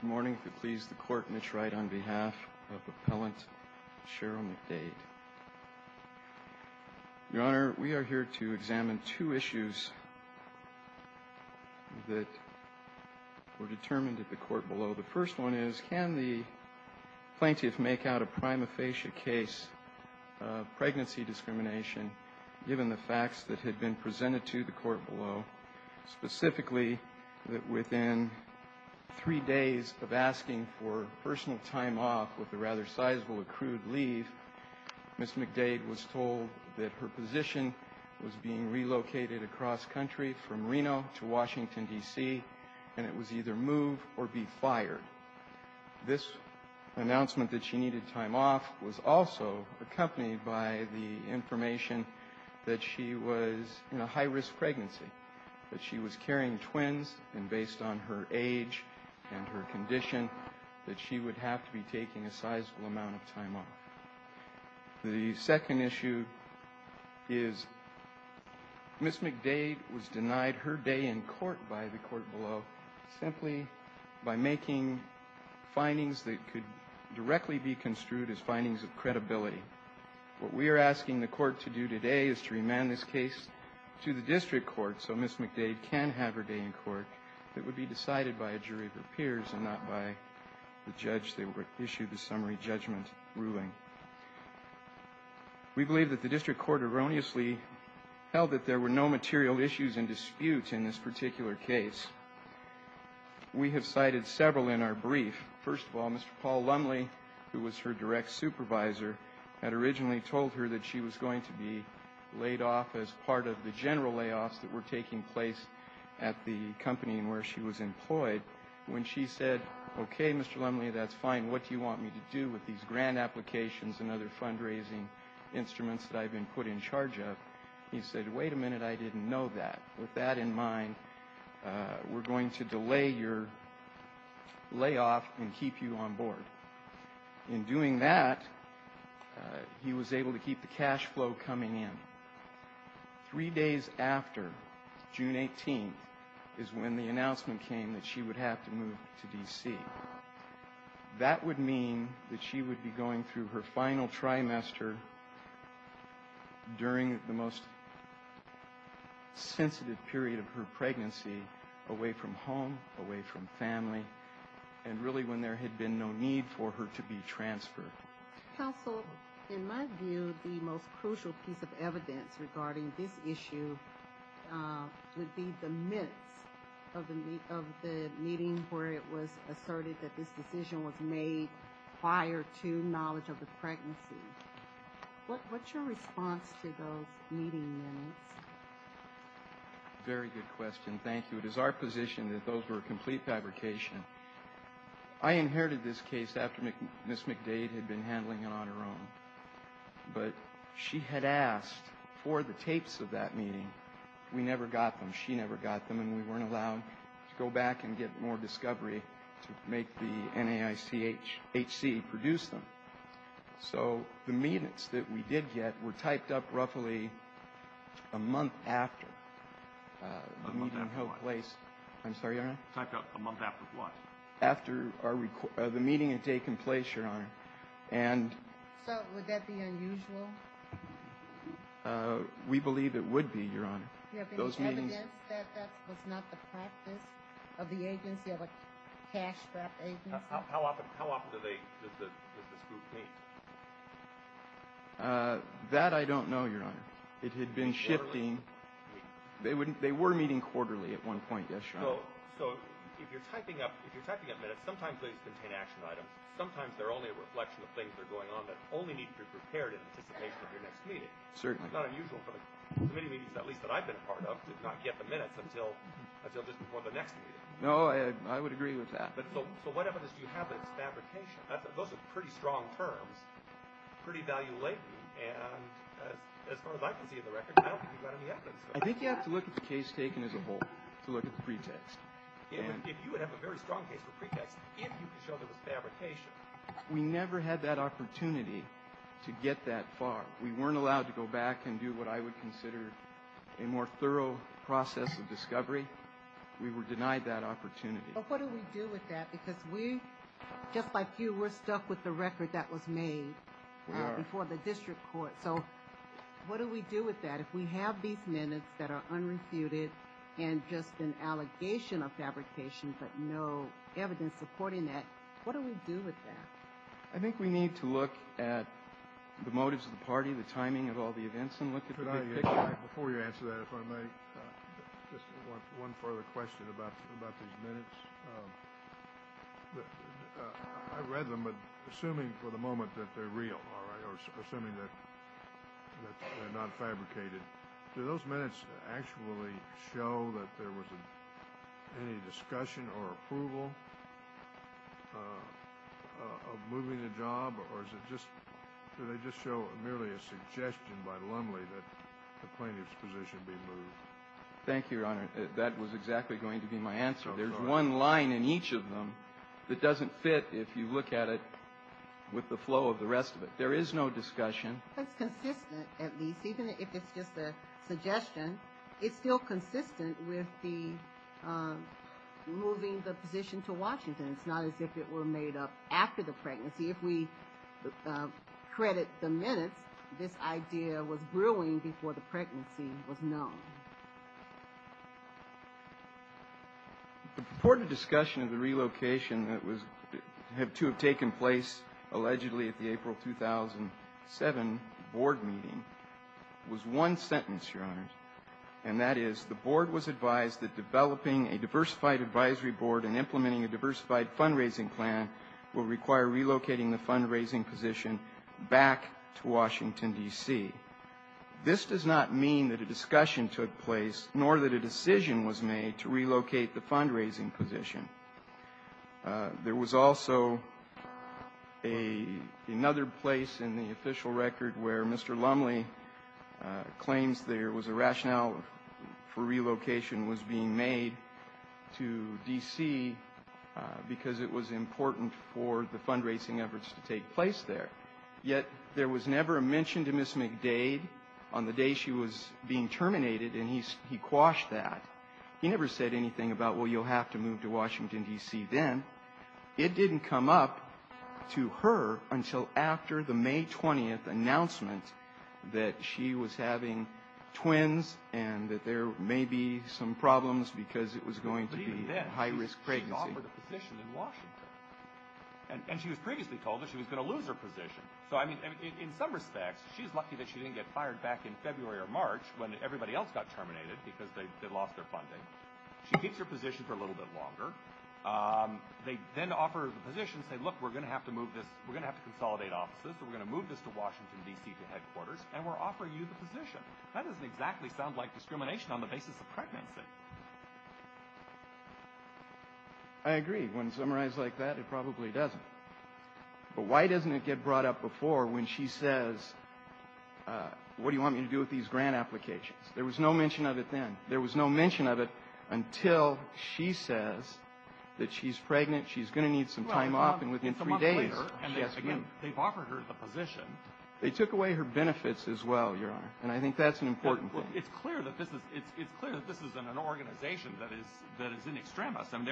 Good morning. It pleases the Court, and it's right on behalf of Appellant Sheryl McDade. Your Honor, we are here to examine two issues that were determined at the court below. The first one is, can the plaintiff make out a prima facie case of pregnancy discrimination, given the facts that had been presented to the court below, specifically that within three days of asking for personal time off with a rather sizable accrued leave, Ms. McDade was told that her position was being relocated across country from Reno to Washington, D.C., and it was either move or be fired. This announcement that she needed time off was also accompanied by the information that she was in a high-risk pregnancy, that she was carrying twins, and based on her age and her condition, that she would have to be taking a sizable amount of time off. The second issue is, Ms. McDade was denied her day in court by the court below, simply by making findings that could directly be construed as findings of credibility. What we are asking the court to do today is to remand this case to the district court so Ms. McDade can have her day in court that would be decided by a jury of her peers and not by the judge. They would issue the summary judgment ruling. We believe that the district court erroneously held that there were no material issues and disputes in this particular case. We have cited several in our brief. First of all, Mr. Paul Lumley, who was her direct supervisor, had originally told her that she was going to be laid off as part of the general layoffs that were taking place at the company where she was employed. When she said, okay, Mr. Lumley, that's fine. What do you want me to do with these grant applications and other fundraising instruments that I've been put in charge of? He said, wait a minute, I didn't know that. With that in mind, we're going to delay your layoff and keep you on board. In doing that, he was able to keep the cash flow coming in. Three days after June 18th is when the announcement came that she would have to move to D.C. That would mean that she would be going through her final trimester during the most sensitive period of her pregnancy, away from home, away from family, and really when there had been no need for her to be transferred. Counsel, in my view, the most crucial piece of evidence regarding this issue would be the minutes of the meeting where it was asserted that this decision was made prior to knowledge of the pregnancy. What's your response to those meeting minutes? Very good question. Thank you. It is our position that those were complete fabrication. I inherited this case after Ms. McDade had been handling it on her own. But she had asked for the tapes of that meeting. We never got them. She never got them. And we weren't allowed to go back and get more discovery to make the NAICHC produce them. So the minutes that we did get were typed up roughly a month after the meeting took place. I'm sorry, Your Honor? Typed up a month after what? After the meeting had taken place, Your Honor. So would that be unusual? We believe it would be, Your Honor. Do you have any evidence that that was not the practice of the agency, of a cash-strapped agency? How often does this group meet? That I don't know, Your Honor. It had been shifting. They were meeting quarterly at one point, yes, Your Honor. So if you're typing up minutes, sometimes they just contain action items. Sometimes they're only a reflection of things that are going on that only need to be prepared in anticipation of your next meeting. Certainly. It's not unusual for the committee meetings, at least that I've been a part of, to not get the minutes until just before the next meeting. No, I would agree with that. So what evidence do you have that it's fabrication? Those are pretty strong terms, pretty value-laden. And as far as I can see in the record, I don't think you've got any evidence. I think you have to look at the case taken as a whole to look at the pretext. If you would have a very strong case for pretext, if you could show there was fabrication. We never had that opportunity to get that far. We weren't allowed to go back and do what I would consider a more thorough process of discovery. We were denied that opportunity. But what do we do with that? Because we, just like you, we're stuck with the record that was made before the district court. So what do we do with that? If we have these minutes that are unrefuted and just an allegation of fabrication but no evidence supporting that, what do we do with that? I think we need to look at the motives of the party, the timing of all the events, and look at the pretext. Before you answer that, if I may, just one further question about these minutes. I read them, but assuming for the moment that they're real, all right, or assuming that they're not fabricated, do those minutes actually show that there was any discussion or approval of moving the job, or is it just, do they just show merely a suggestion by Lumley that the plaintiff's position be moved? Thank you, Your Honor. That was exactly going to be my answer. There's one line in each of them that doesn't fit if you look at it with the flow of the rest of it. There is no discussion. It's consistent, at least, even if it's just a suggestion. It's still consistent with the moving the position to Washington. It's not as if it were made up after the pregnancy. If we credit the minutes, this idea was brewing before the pregnancy was known. The purported discussion of the relocation that was to have taken place allegedly at the April 2007 board meeting was one sentence, Your Honor, and that is the board was advised that developing a diversified advisory board and implementing a diversified fundraising plan will require relocating the fundraising position back to Washington, D.C. This does not mean that a discussion took place, nor that a decision was made to relocate the fundraising position. There was also another place in the official record where Mr. Lumley claims there was a rationale for relocation was being made to D.C. because it was important for the fundraising efforts to take place there. Yet there was never a mention to Ms. McDade on the day she was being terminated, and he quashed that. He never said anything about, well, you'll have to move to Washington, D.C. then. It didn't come up to her until after the May 20th announcement that she was having twins and that there may be some problems because it was going to be a high-risk pregnancy. But even then, she offered a position in Washington, and she was previously told that she was going to lose her position. So, I mean, in some respects, she's lucky that she didn't get fired back in February or March when everybody else got terminated because they lost their funding. She keeps her position for a little bit longer. They then offer her the position and say, look, we're going to have to move this. We're going to have to consolidate offices. We're going to move this to Washington, D.C., to headquarters, and we're offering you the position. That doesn't exactly sound like discrimination on the basis of pregnancy. I agree. When summarized like that, it probably doesn't. But why doesn't it get brought up before when she says, what do you want me to do with these grant applications? There was no mention of it then. There was no mention of it until she says that she's pregnant, she's going to need some time off, and within three days, she has to move. Well, it's a month later, and again, they've offered her the position. They took away her benefits as well, Your Honor. And I think that's an important thing. It's clear that this is an organization that is in extremis. I'm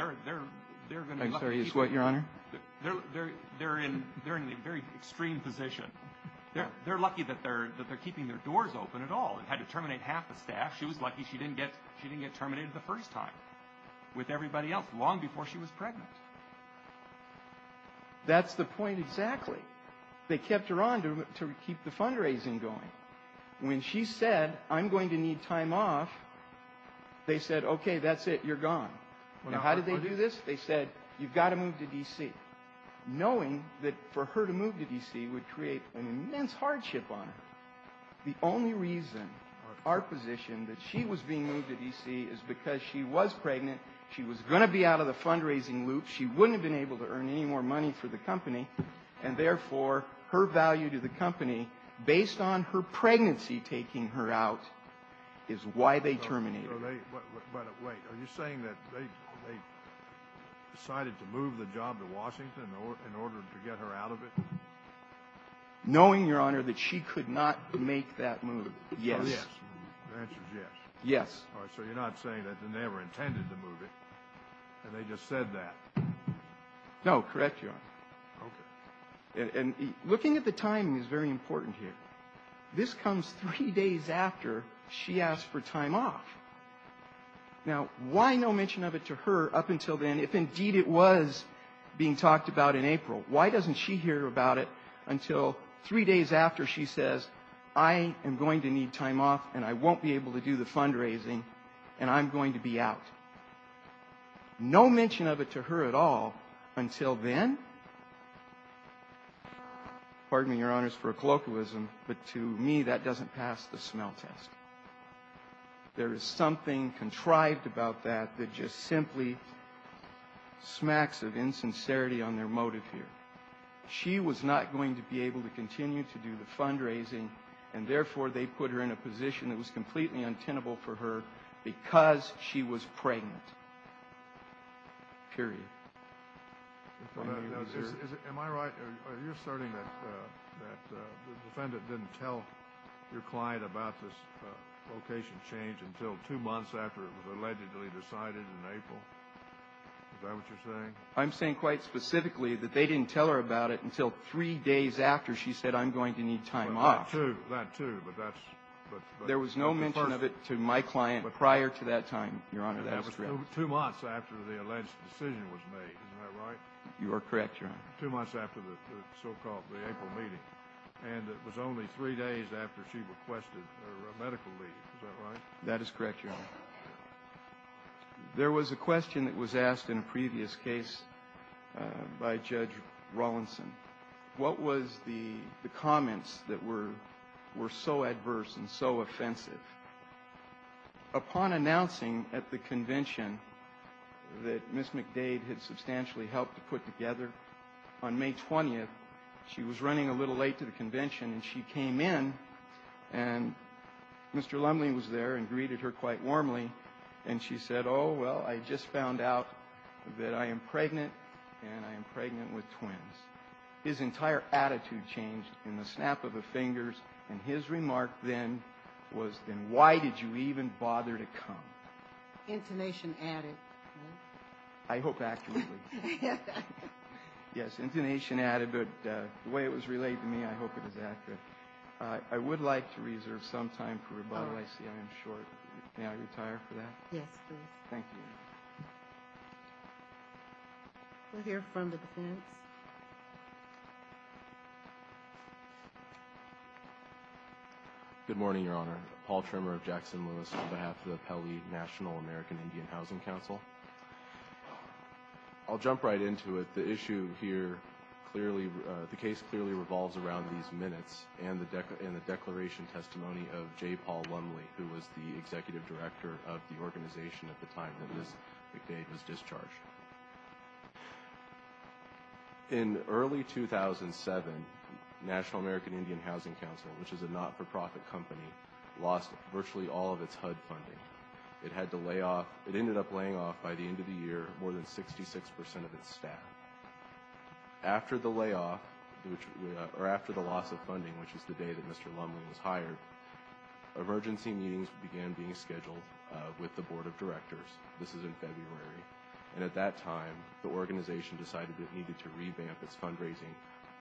sorry, is what, Your Honor? They're in a very extreme position. They're lucky that they're keeping their doors open at all and had to terminate half the staff. She was lucky she didn't get terminated the first time with everybody else long before she was pregnant. That's the point exactly. They kept her on to keep the fundraising going. When she said, I'm going to need time off, they said, okay, that's it, you're gone. Now, how did they do this? They said, you've got to move to D.C. Knowing that for her to move to D.C. would create an immense hardship on her. The only reason our position that she was being moved to D.C. is because she was pregnant, she was going to be out of the fundraising loop, she wouldn't have been able to earn any more money for the company. And therefore, her value to the company, based on her pregnancy taking her out, is why they terminated her. But wait, are you saying that they decided to move the job to Washington in order to get her out of it? Knowing, Your Honor, that she could not make that move, yes. Yes. The answer is yes. Yes. All right, so you're not saying that they never intended to move it and they just said that. No, correct, Your Honor. Okay. And looking at the timing is very important here. This comes three days after she asked for time off. Now, why no mention of it to her up until then, if indeed it was being talked about in April? Why doesn't she hear about it until three days after she says, I am going to need time off and I won't be able to do the fundraising and I'm going to be out? No mention of it to her at all until then? Pardon me, Your Honors, for a colloquialism, but to me that doesn't pass the smell test. There is something contrived about that that just simply smacks of insincerity on their motive here. She was not going to be able to continue to do the fundraising and, therefore, they put her in a position that was completely untenable for her because she was pregnant, period. Am I right? Are you asserting that the defendant didn't tell your client about this location change until two months after it was allegedly decided in April? Is that what you're saying? I'm saying quite specifically that they didn't tell her about it until three days after she said, I'm going to need time off. That too, but that's the first. There was no mention of it to my client prior to that time, Your Honor. That was two months after the alleged decision was made. Is that right? You are correct, Your Honor. Two months after the so-called April meeting, and it was only three days after she requested her medical leave. Is that right? That is correct, Your Honor. There was a question that was asked in a previous case by Judge Rawlinson. What was the comments that were so adverse and so offensive? Upon announcing at the convention that Ms. McDade had substantially helped to put together on May 20th, she was running a little late to the convention, and she came in, and Mr. Lumley was there and greeted her quite warmly, and she said, oh, well, I just found out that I am pregnant, and I am pregnant with twins. His entire attitude changed in the snap of the fingers, and his remark then was, then why did you even bother to come? Intonation added. I hope accurately. Yes, intonation added, but the way it was relayed to me, I hope it was accurate. I would like to reserve some time for rebuttal. I see I am short. Yes, please. Thank you, Your Honor. We'll hear from the defense. Good morning, Your Honor. Paul Tremmer of Jackson Lewis on behalf of the Pele National American Indian Housing Council. I'll jump right into it. The issue here clearly, the case clearly revolves around these minutes and the declaration testimony of J. Paul Lumley, who was the executive director of the organization at the time that Ms. McDade was discharged. In early 2007, National American Indian Housing Council, which is a not-for-profit company, lost virtually all of its HUD funding. It had to lay off. It ended up laying off, by the end of the year, more than 66 percent of its staff. After the layoff, or after the loss of funding, which is the day that Mr. Lumley was hired, emergency meetings began being scheduled with the board of directors. This is in February. And at that time, the organization decided it needed to revamp its fundraising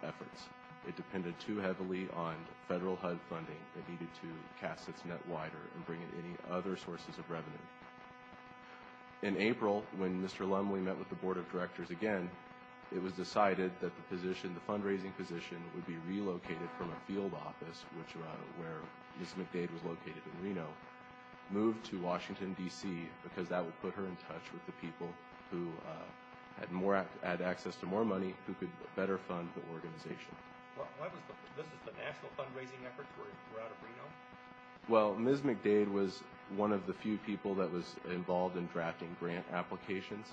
efforts. It depended too heavily on federal HUD funding. It needed to cast its net wider and bring in any other sources of revenue. In April, when Mr. Lumley met with the board of directors again, it was decided that the fundraising position would be relocated from a field office, where Ms. McDade was located in Reno, moved to Washington, D.C., because that would put her in touch with the people who had access to more money, who could better fund the organization. This is the national fundraising effort throughout Reno? Well, Ms. McDade was one of the few people that was involved in drafting grant applications.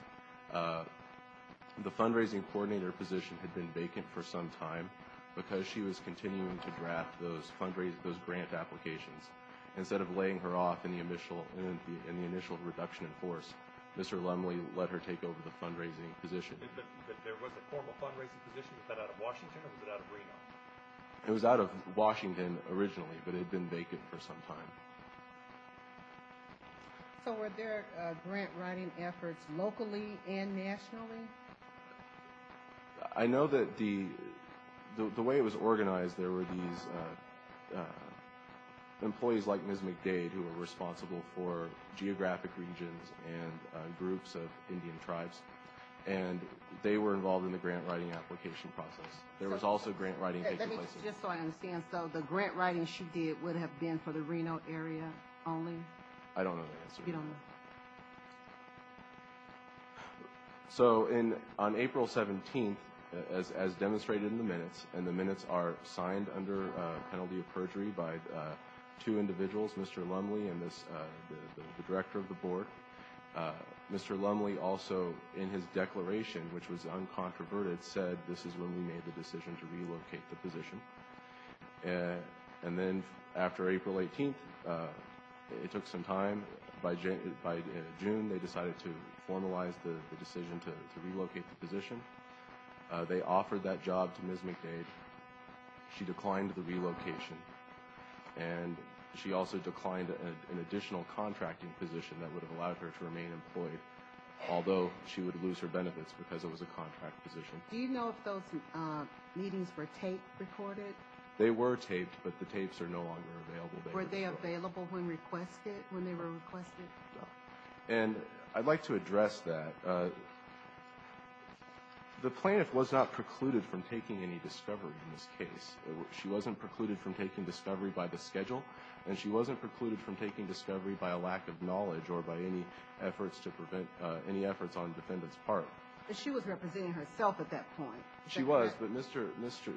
The fundraising coordinator position had been vacant for some time, because she was continuing to draft those grant applications. Instead of laying her off in the initial reduction in force, Mr. Lumley let her take over the fundraising position. There was a formal fundraising position, was that out of Washington or was it out of Reno? It was out of Washington originally, but it had been vacant for some time. So were there grant writing efforts locally and nationally? I know that the way it was organized, there were these employees like Ms. McDade who were responsible for geographic regions and groups of Indian tribes. And they were involved in the grant writing application process. There was also grant writing taking place. Just so I understand, so the grant writing she did would have been for the Reno area only? I don't know the answer to that. You don't know? So on April 17th, as demonstrated in the minutes, and the minutes are signed under penalty of perjury by two individuals, Mr. Lumley and the director of the board. Mr. Lumley also, in his declaration, which was uncontroverted, said this is when we made the decision to relocate the position. And then after April 18th, it took some time. By June, they decided to formalize the decision to relocate the position. They offered that job to Ms. McDade. She declined the relocation. And she also declined an additional contracting position that would have allowed her to remain employed, although she would lose her benefits because it was a contract position. Do you know if those meetings were taped, recorded? They were taped, but the tapes are no longer available. Were they available when requested, when they were requested? And I'd like to address that. The plaintiff was not precluded from taking any discovery in this case. She wasn't precluded from taking discovery by the schedule, and she wasn't precluded from taking discovery by a lack of knowledge or by any efforts to prevent any efforts on defendant's part. But she was representing herself at that point. She was, but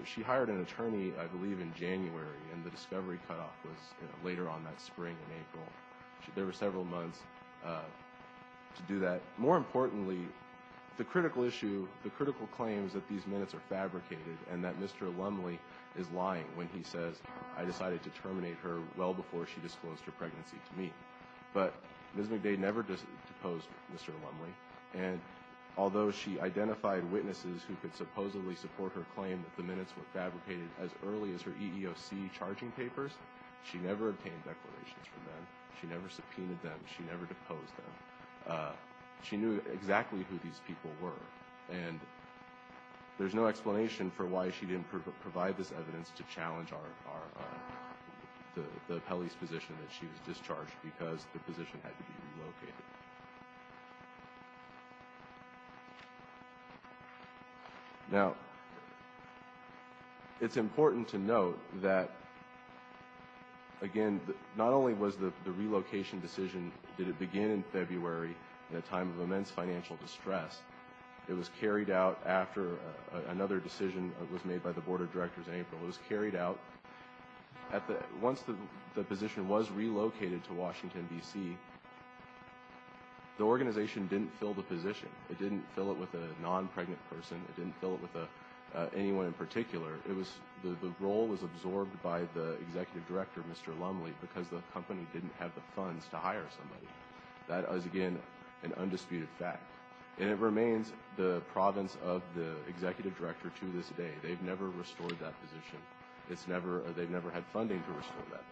she hired an attorney, I believe, in January, and the discovery cutoff was later on that spring in April. There were several months to do that. More importantly, the critical issue, the critical claims that these minutes are fabricated and that Mr. Lumley is lying when he says, I decided to terminate her well before she disclosed her pregnancy to me. But Ms. McDade never deposed Mr. Lumley, and although she identified witnesses who could supposedly support her claim that the minutes were fabricated as early as her EEOC charging papers, she never obtained declarations from them. She never subpoenaed them. She never deposed them. She knew exactly who these people were, and there's no explanation for why she didn't provide this evidence to challenge the appellee's position that she was discharged because the position had to be relocated. Now, it's important to note that, again, not only was the relocation decision, did it begin in February in a time of immense financial distress, it was carried out after another decision was made by the board of directors in April. It was carried out at the end. Once the position was relocated to Washington, D.C., the organization didn't fill the position. It didn't fill it with a non-pregnant person. It didn't fill it with anyone in particular. The role was absorbed by the executive director, Mr. Lumley, because the company didn't have the funds to hire somebody. That is, again, an undisputed fact. And it remains the province of the executive director to this day. They've never restored that position. They've never had funding to restore that position.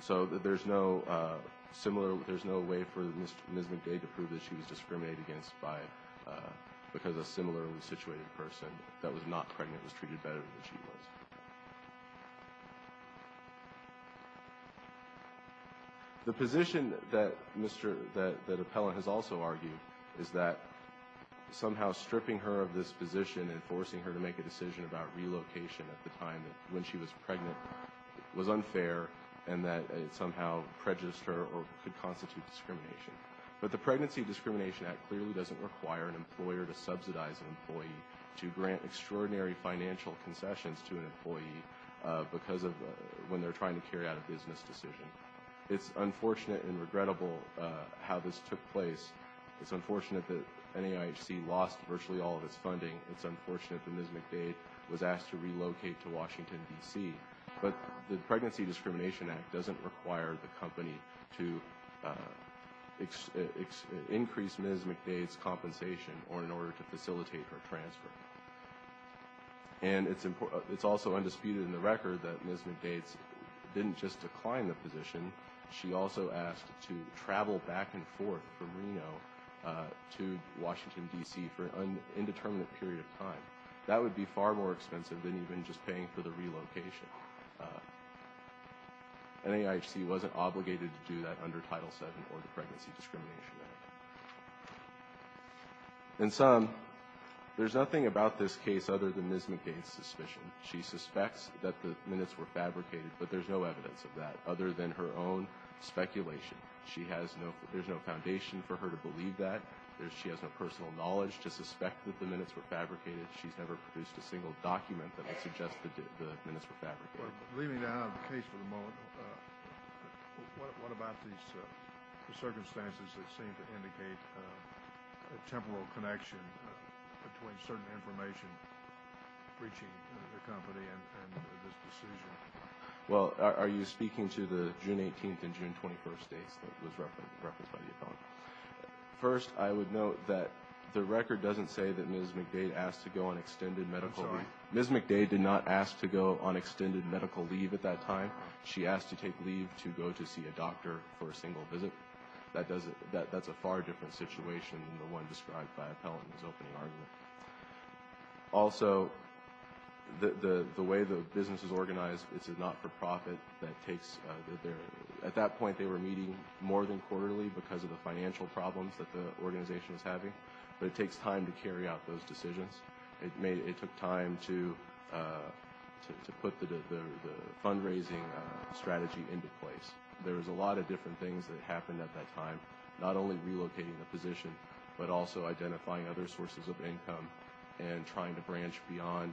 So there's no way for Ms. McDade to prove that she was discriminated against because a similarly situated person that was not pregnant was treated better than she was. The position that Appellant has also argued is that somehow stripping her of this position and forcing her to make a decision about relocation at the time when she was pregnant was unfair and that it somehow prejudiced her or could constitute discrimination. But the Pregnancy Discrimination Act clearly doesn't require an employer to subsidize an employee to grant extraordinary financial concessions to an employee when they're trying to carry out a business decision. It's unfortunate and regrettable how this took place. It's unfortunate that NAIHC lost virtually all of its funding. It's unfortunate that Ms. McDade was asked to relocate to Washington, D.C. But the Pregnancy Discrimination Act doesn't require the company to increase Ms. McDade's compensation or in order to facilitate her transfer. And it's also undisputed in the record that Ms. McDade didn't just decline the position. She also asked to travel back and forth from Reno to Washington, D.C. for an indeterminate period of time. That would be far more expensive than even just paying for the relocation. NAIHC wasn't obligated to do that under Title VII or the Pregnancy Discrimination Act. In sum, there's nothing about this case other than Ms. McDade's suspicion. She suspects that the minutes were fabricated, but there's no evidence of that other than her own speculation. She has no – there's no foundation for her to believe that. She has no personal knowledge to suspect that the minutes were fabricated. She's never produced a single document that would suggest that the minutes were fabricated. Well, leaving that out of the case for the moment, what about these circumstances that seem to indicate a temporal connection between certain information breaching the company and this decision? Well, are you speaking to the June 18th and June 21st dates that was referenced by you, Tom? First, I would note that the record doesn't say that Ms. McDade asked to go on extended medical leave. I'm sorry. Ms. McDade did not ask to go on extended medical leave at that time. She asked to take leave to go to see a doctor for a single visit. That's a far different situation than the one described by Appellant in his opening argument. Also, the way the business is organized, it's a not-for-profit that takes – at that point, they were meeting more than quarterly because of the financial problems that the organization is having, but it takes time to carry out those decisions. It took time to put the fundraising strategy into place. There was a lot of different things that happened at that time, not only relocating the position but also identifying other sources of income and trying to branch beyond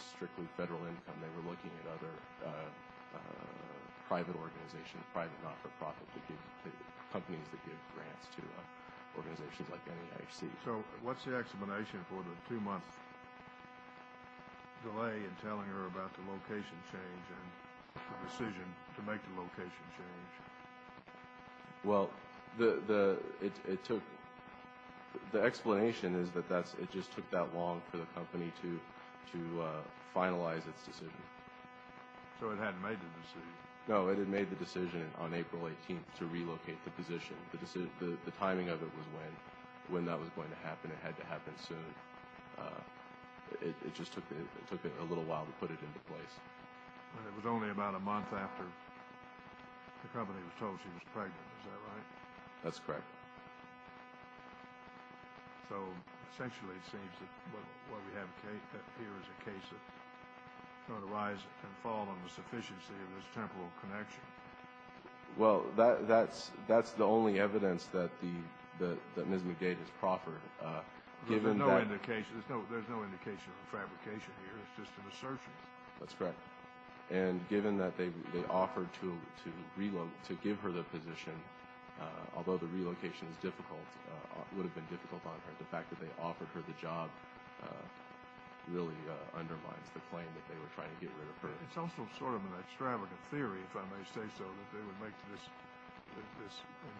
strictly federal income. And they were looking at other private organizations, private not-for-profit companies that give grants to organizations like NEIC. So what's the explanation for the two-month delay in telling her about the location change and the decision to make the location change? Well, the explanation is that it just took that long for the company to finalize its decision. So it hadn't made the decision? No, it had made the decision on April 18th to relocate the position. The timing of it was when that was going to happen. It had to happen soon. It just took a little while to put it into place. It was only about a month after the company was told she was pregnant, is that right? That's correct. So essentially it seems that what we have here is a case of sort of rise and fall on the sufficiency of this temporal connection. Well, that's the only evidence that Ms. McGage has proffered. There's no indication of a fabrication here. It's just an assertion. That's correct. And given that they offered to give her the position, although the relocation would have been difficult on her, the fact that they offered her the job really undermines the claim that they were trying to get rid of her. It's also sort of an extravagant theory, if I may say so, that they would make this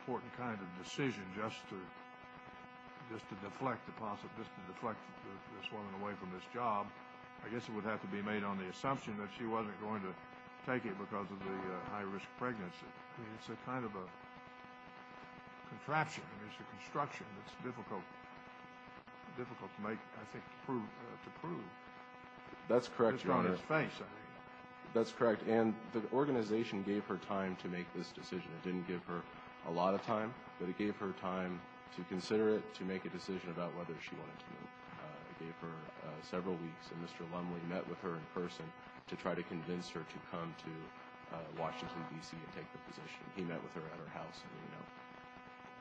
important kind of decision just to deflect this woman away from this job. I guess it would have to be made on the assumption that she wasn't going to take it because of the high-risk pregnancy. I mean, it's a kind of a contraption. I mean, it's a construction that's difficult to make, I think, to prove. That's correct, Your Honor. It's on its face, I think. That's correct. And the organization gave her time to make this decision. It didn't give her a lot of time, but it gave her time to consider it, to make a decision about whether she wanted to move. It gave her several weeks, and Mr. Lumley met with her in person to try to convince her to come to Washington, D.C., and take the position. He met with her at her house,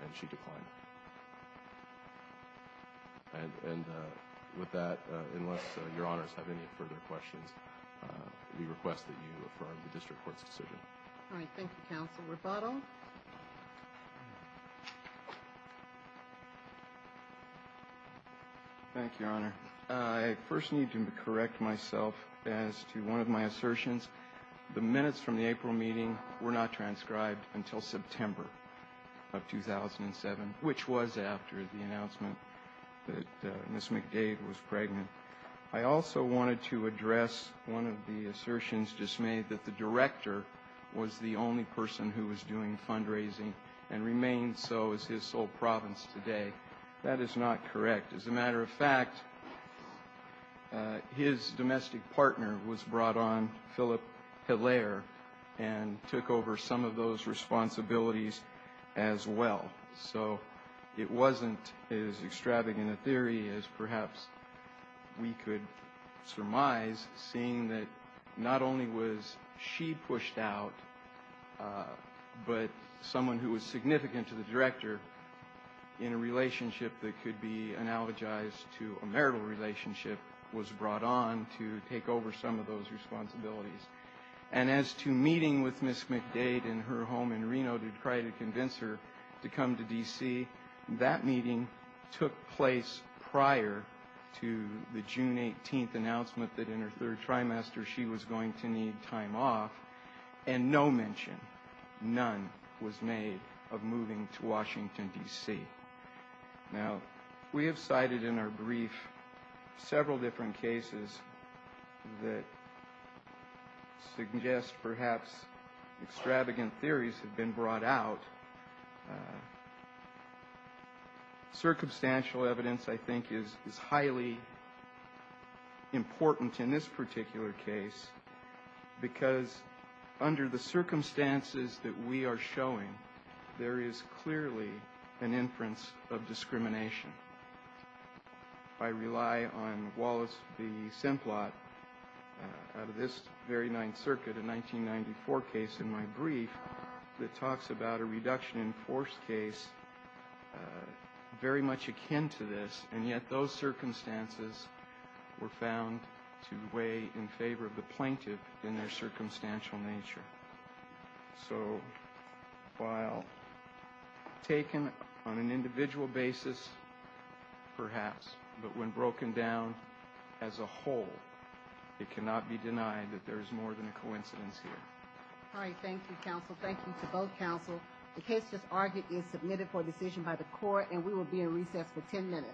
and she declined. And with that, unless Your Honors have any further questions, we request that you affirm the district court's decision. All right. Thank you, Counsel. Rebuttal. Thank you, Your Honor. I first need to correct myself as to one of my assertions. The minutes from the April meeting were not transcribed until September of 2007, which was after the announcement that Ms. McDade was pregnant. I also wanted to address one of the assertions just made, that the director was the only person who was doing fundraising and remains so as his sole province today. That is not correct. As a matter of fact, his domestic partner was brought on, Philip Hilaire, and took over some of those responsibilities as well. So it wasn't as extravagant a theory as perhaps we could surmise, seeing that not only was she pushed out, but someone who was significant to the director in a relationship that could be analogized to a marital relationship was brought on to take over some of those responsibilities. And as to meeting with Ms. McDade in her home in Reno to try to convince her to come to D.C., that meeting took place prior to the June 18th announcement that in her third trimester she was going to need time off, and no mention, none, was made of moving to Washington, D.C. Now, we have cited in our brief several different cases that suggest perhaps extravagant theories have been brought out. Circumstantial evidence, I think, is highly important in this particular case because under the circumstances that we are showing, I rely on Wallace v. Simplot out of this very Ninth Circuit, a 1994 case in my brief, that talks about a reduction in force case very much akin to this, and yet those circumstances were found to weigh in favor of the plaintiff in their circumstantial nature. So while taken on an individual basis, perhaps, but when broken down as a whole, it cannot be denied that there is more than a coincidence here. All right. Thank you, counsel. Thank you to both counsel. The case just argued is submitted for decision by the court, and we will be in recess for 10 minutes.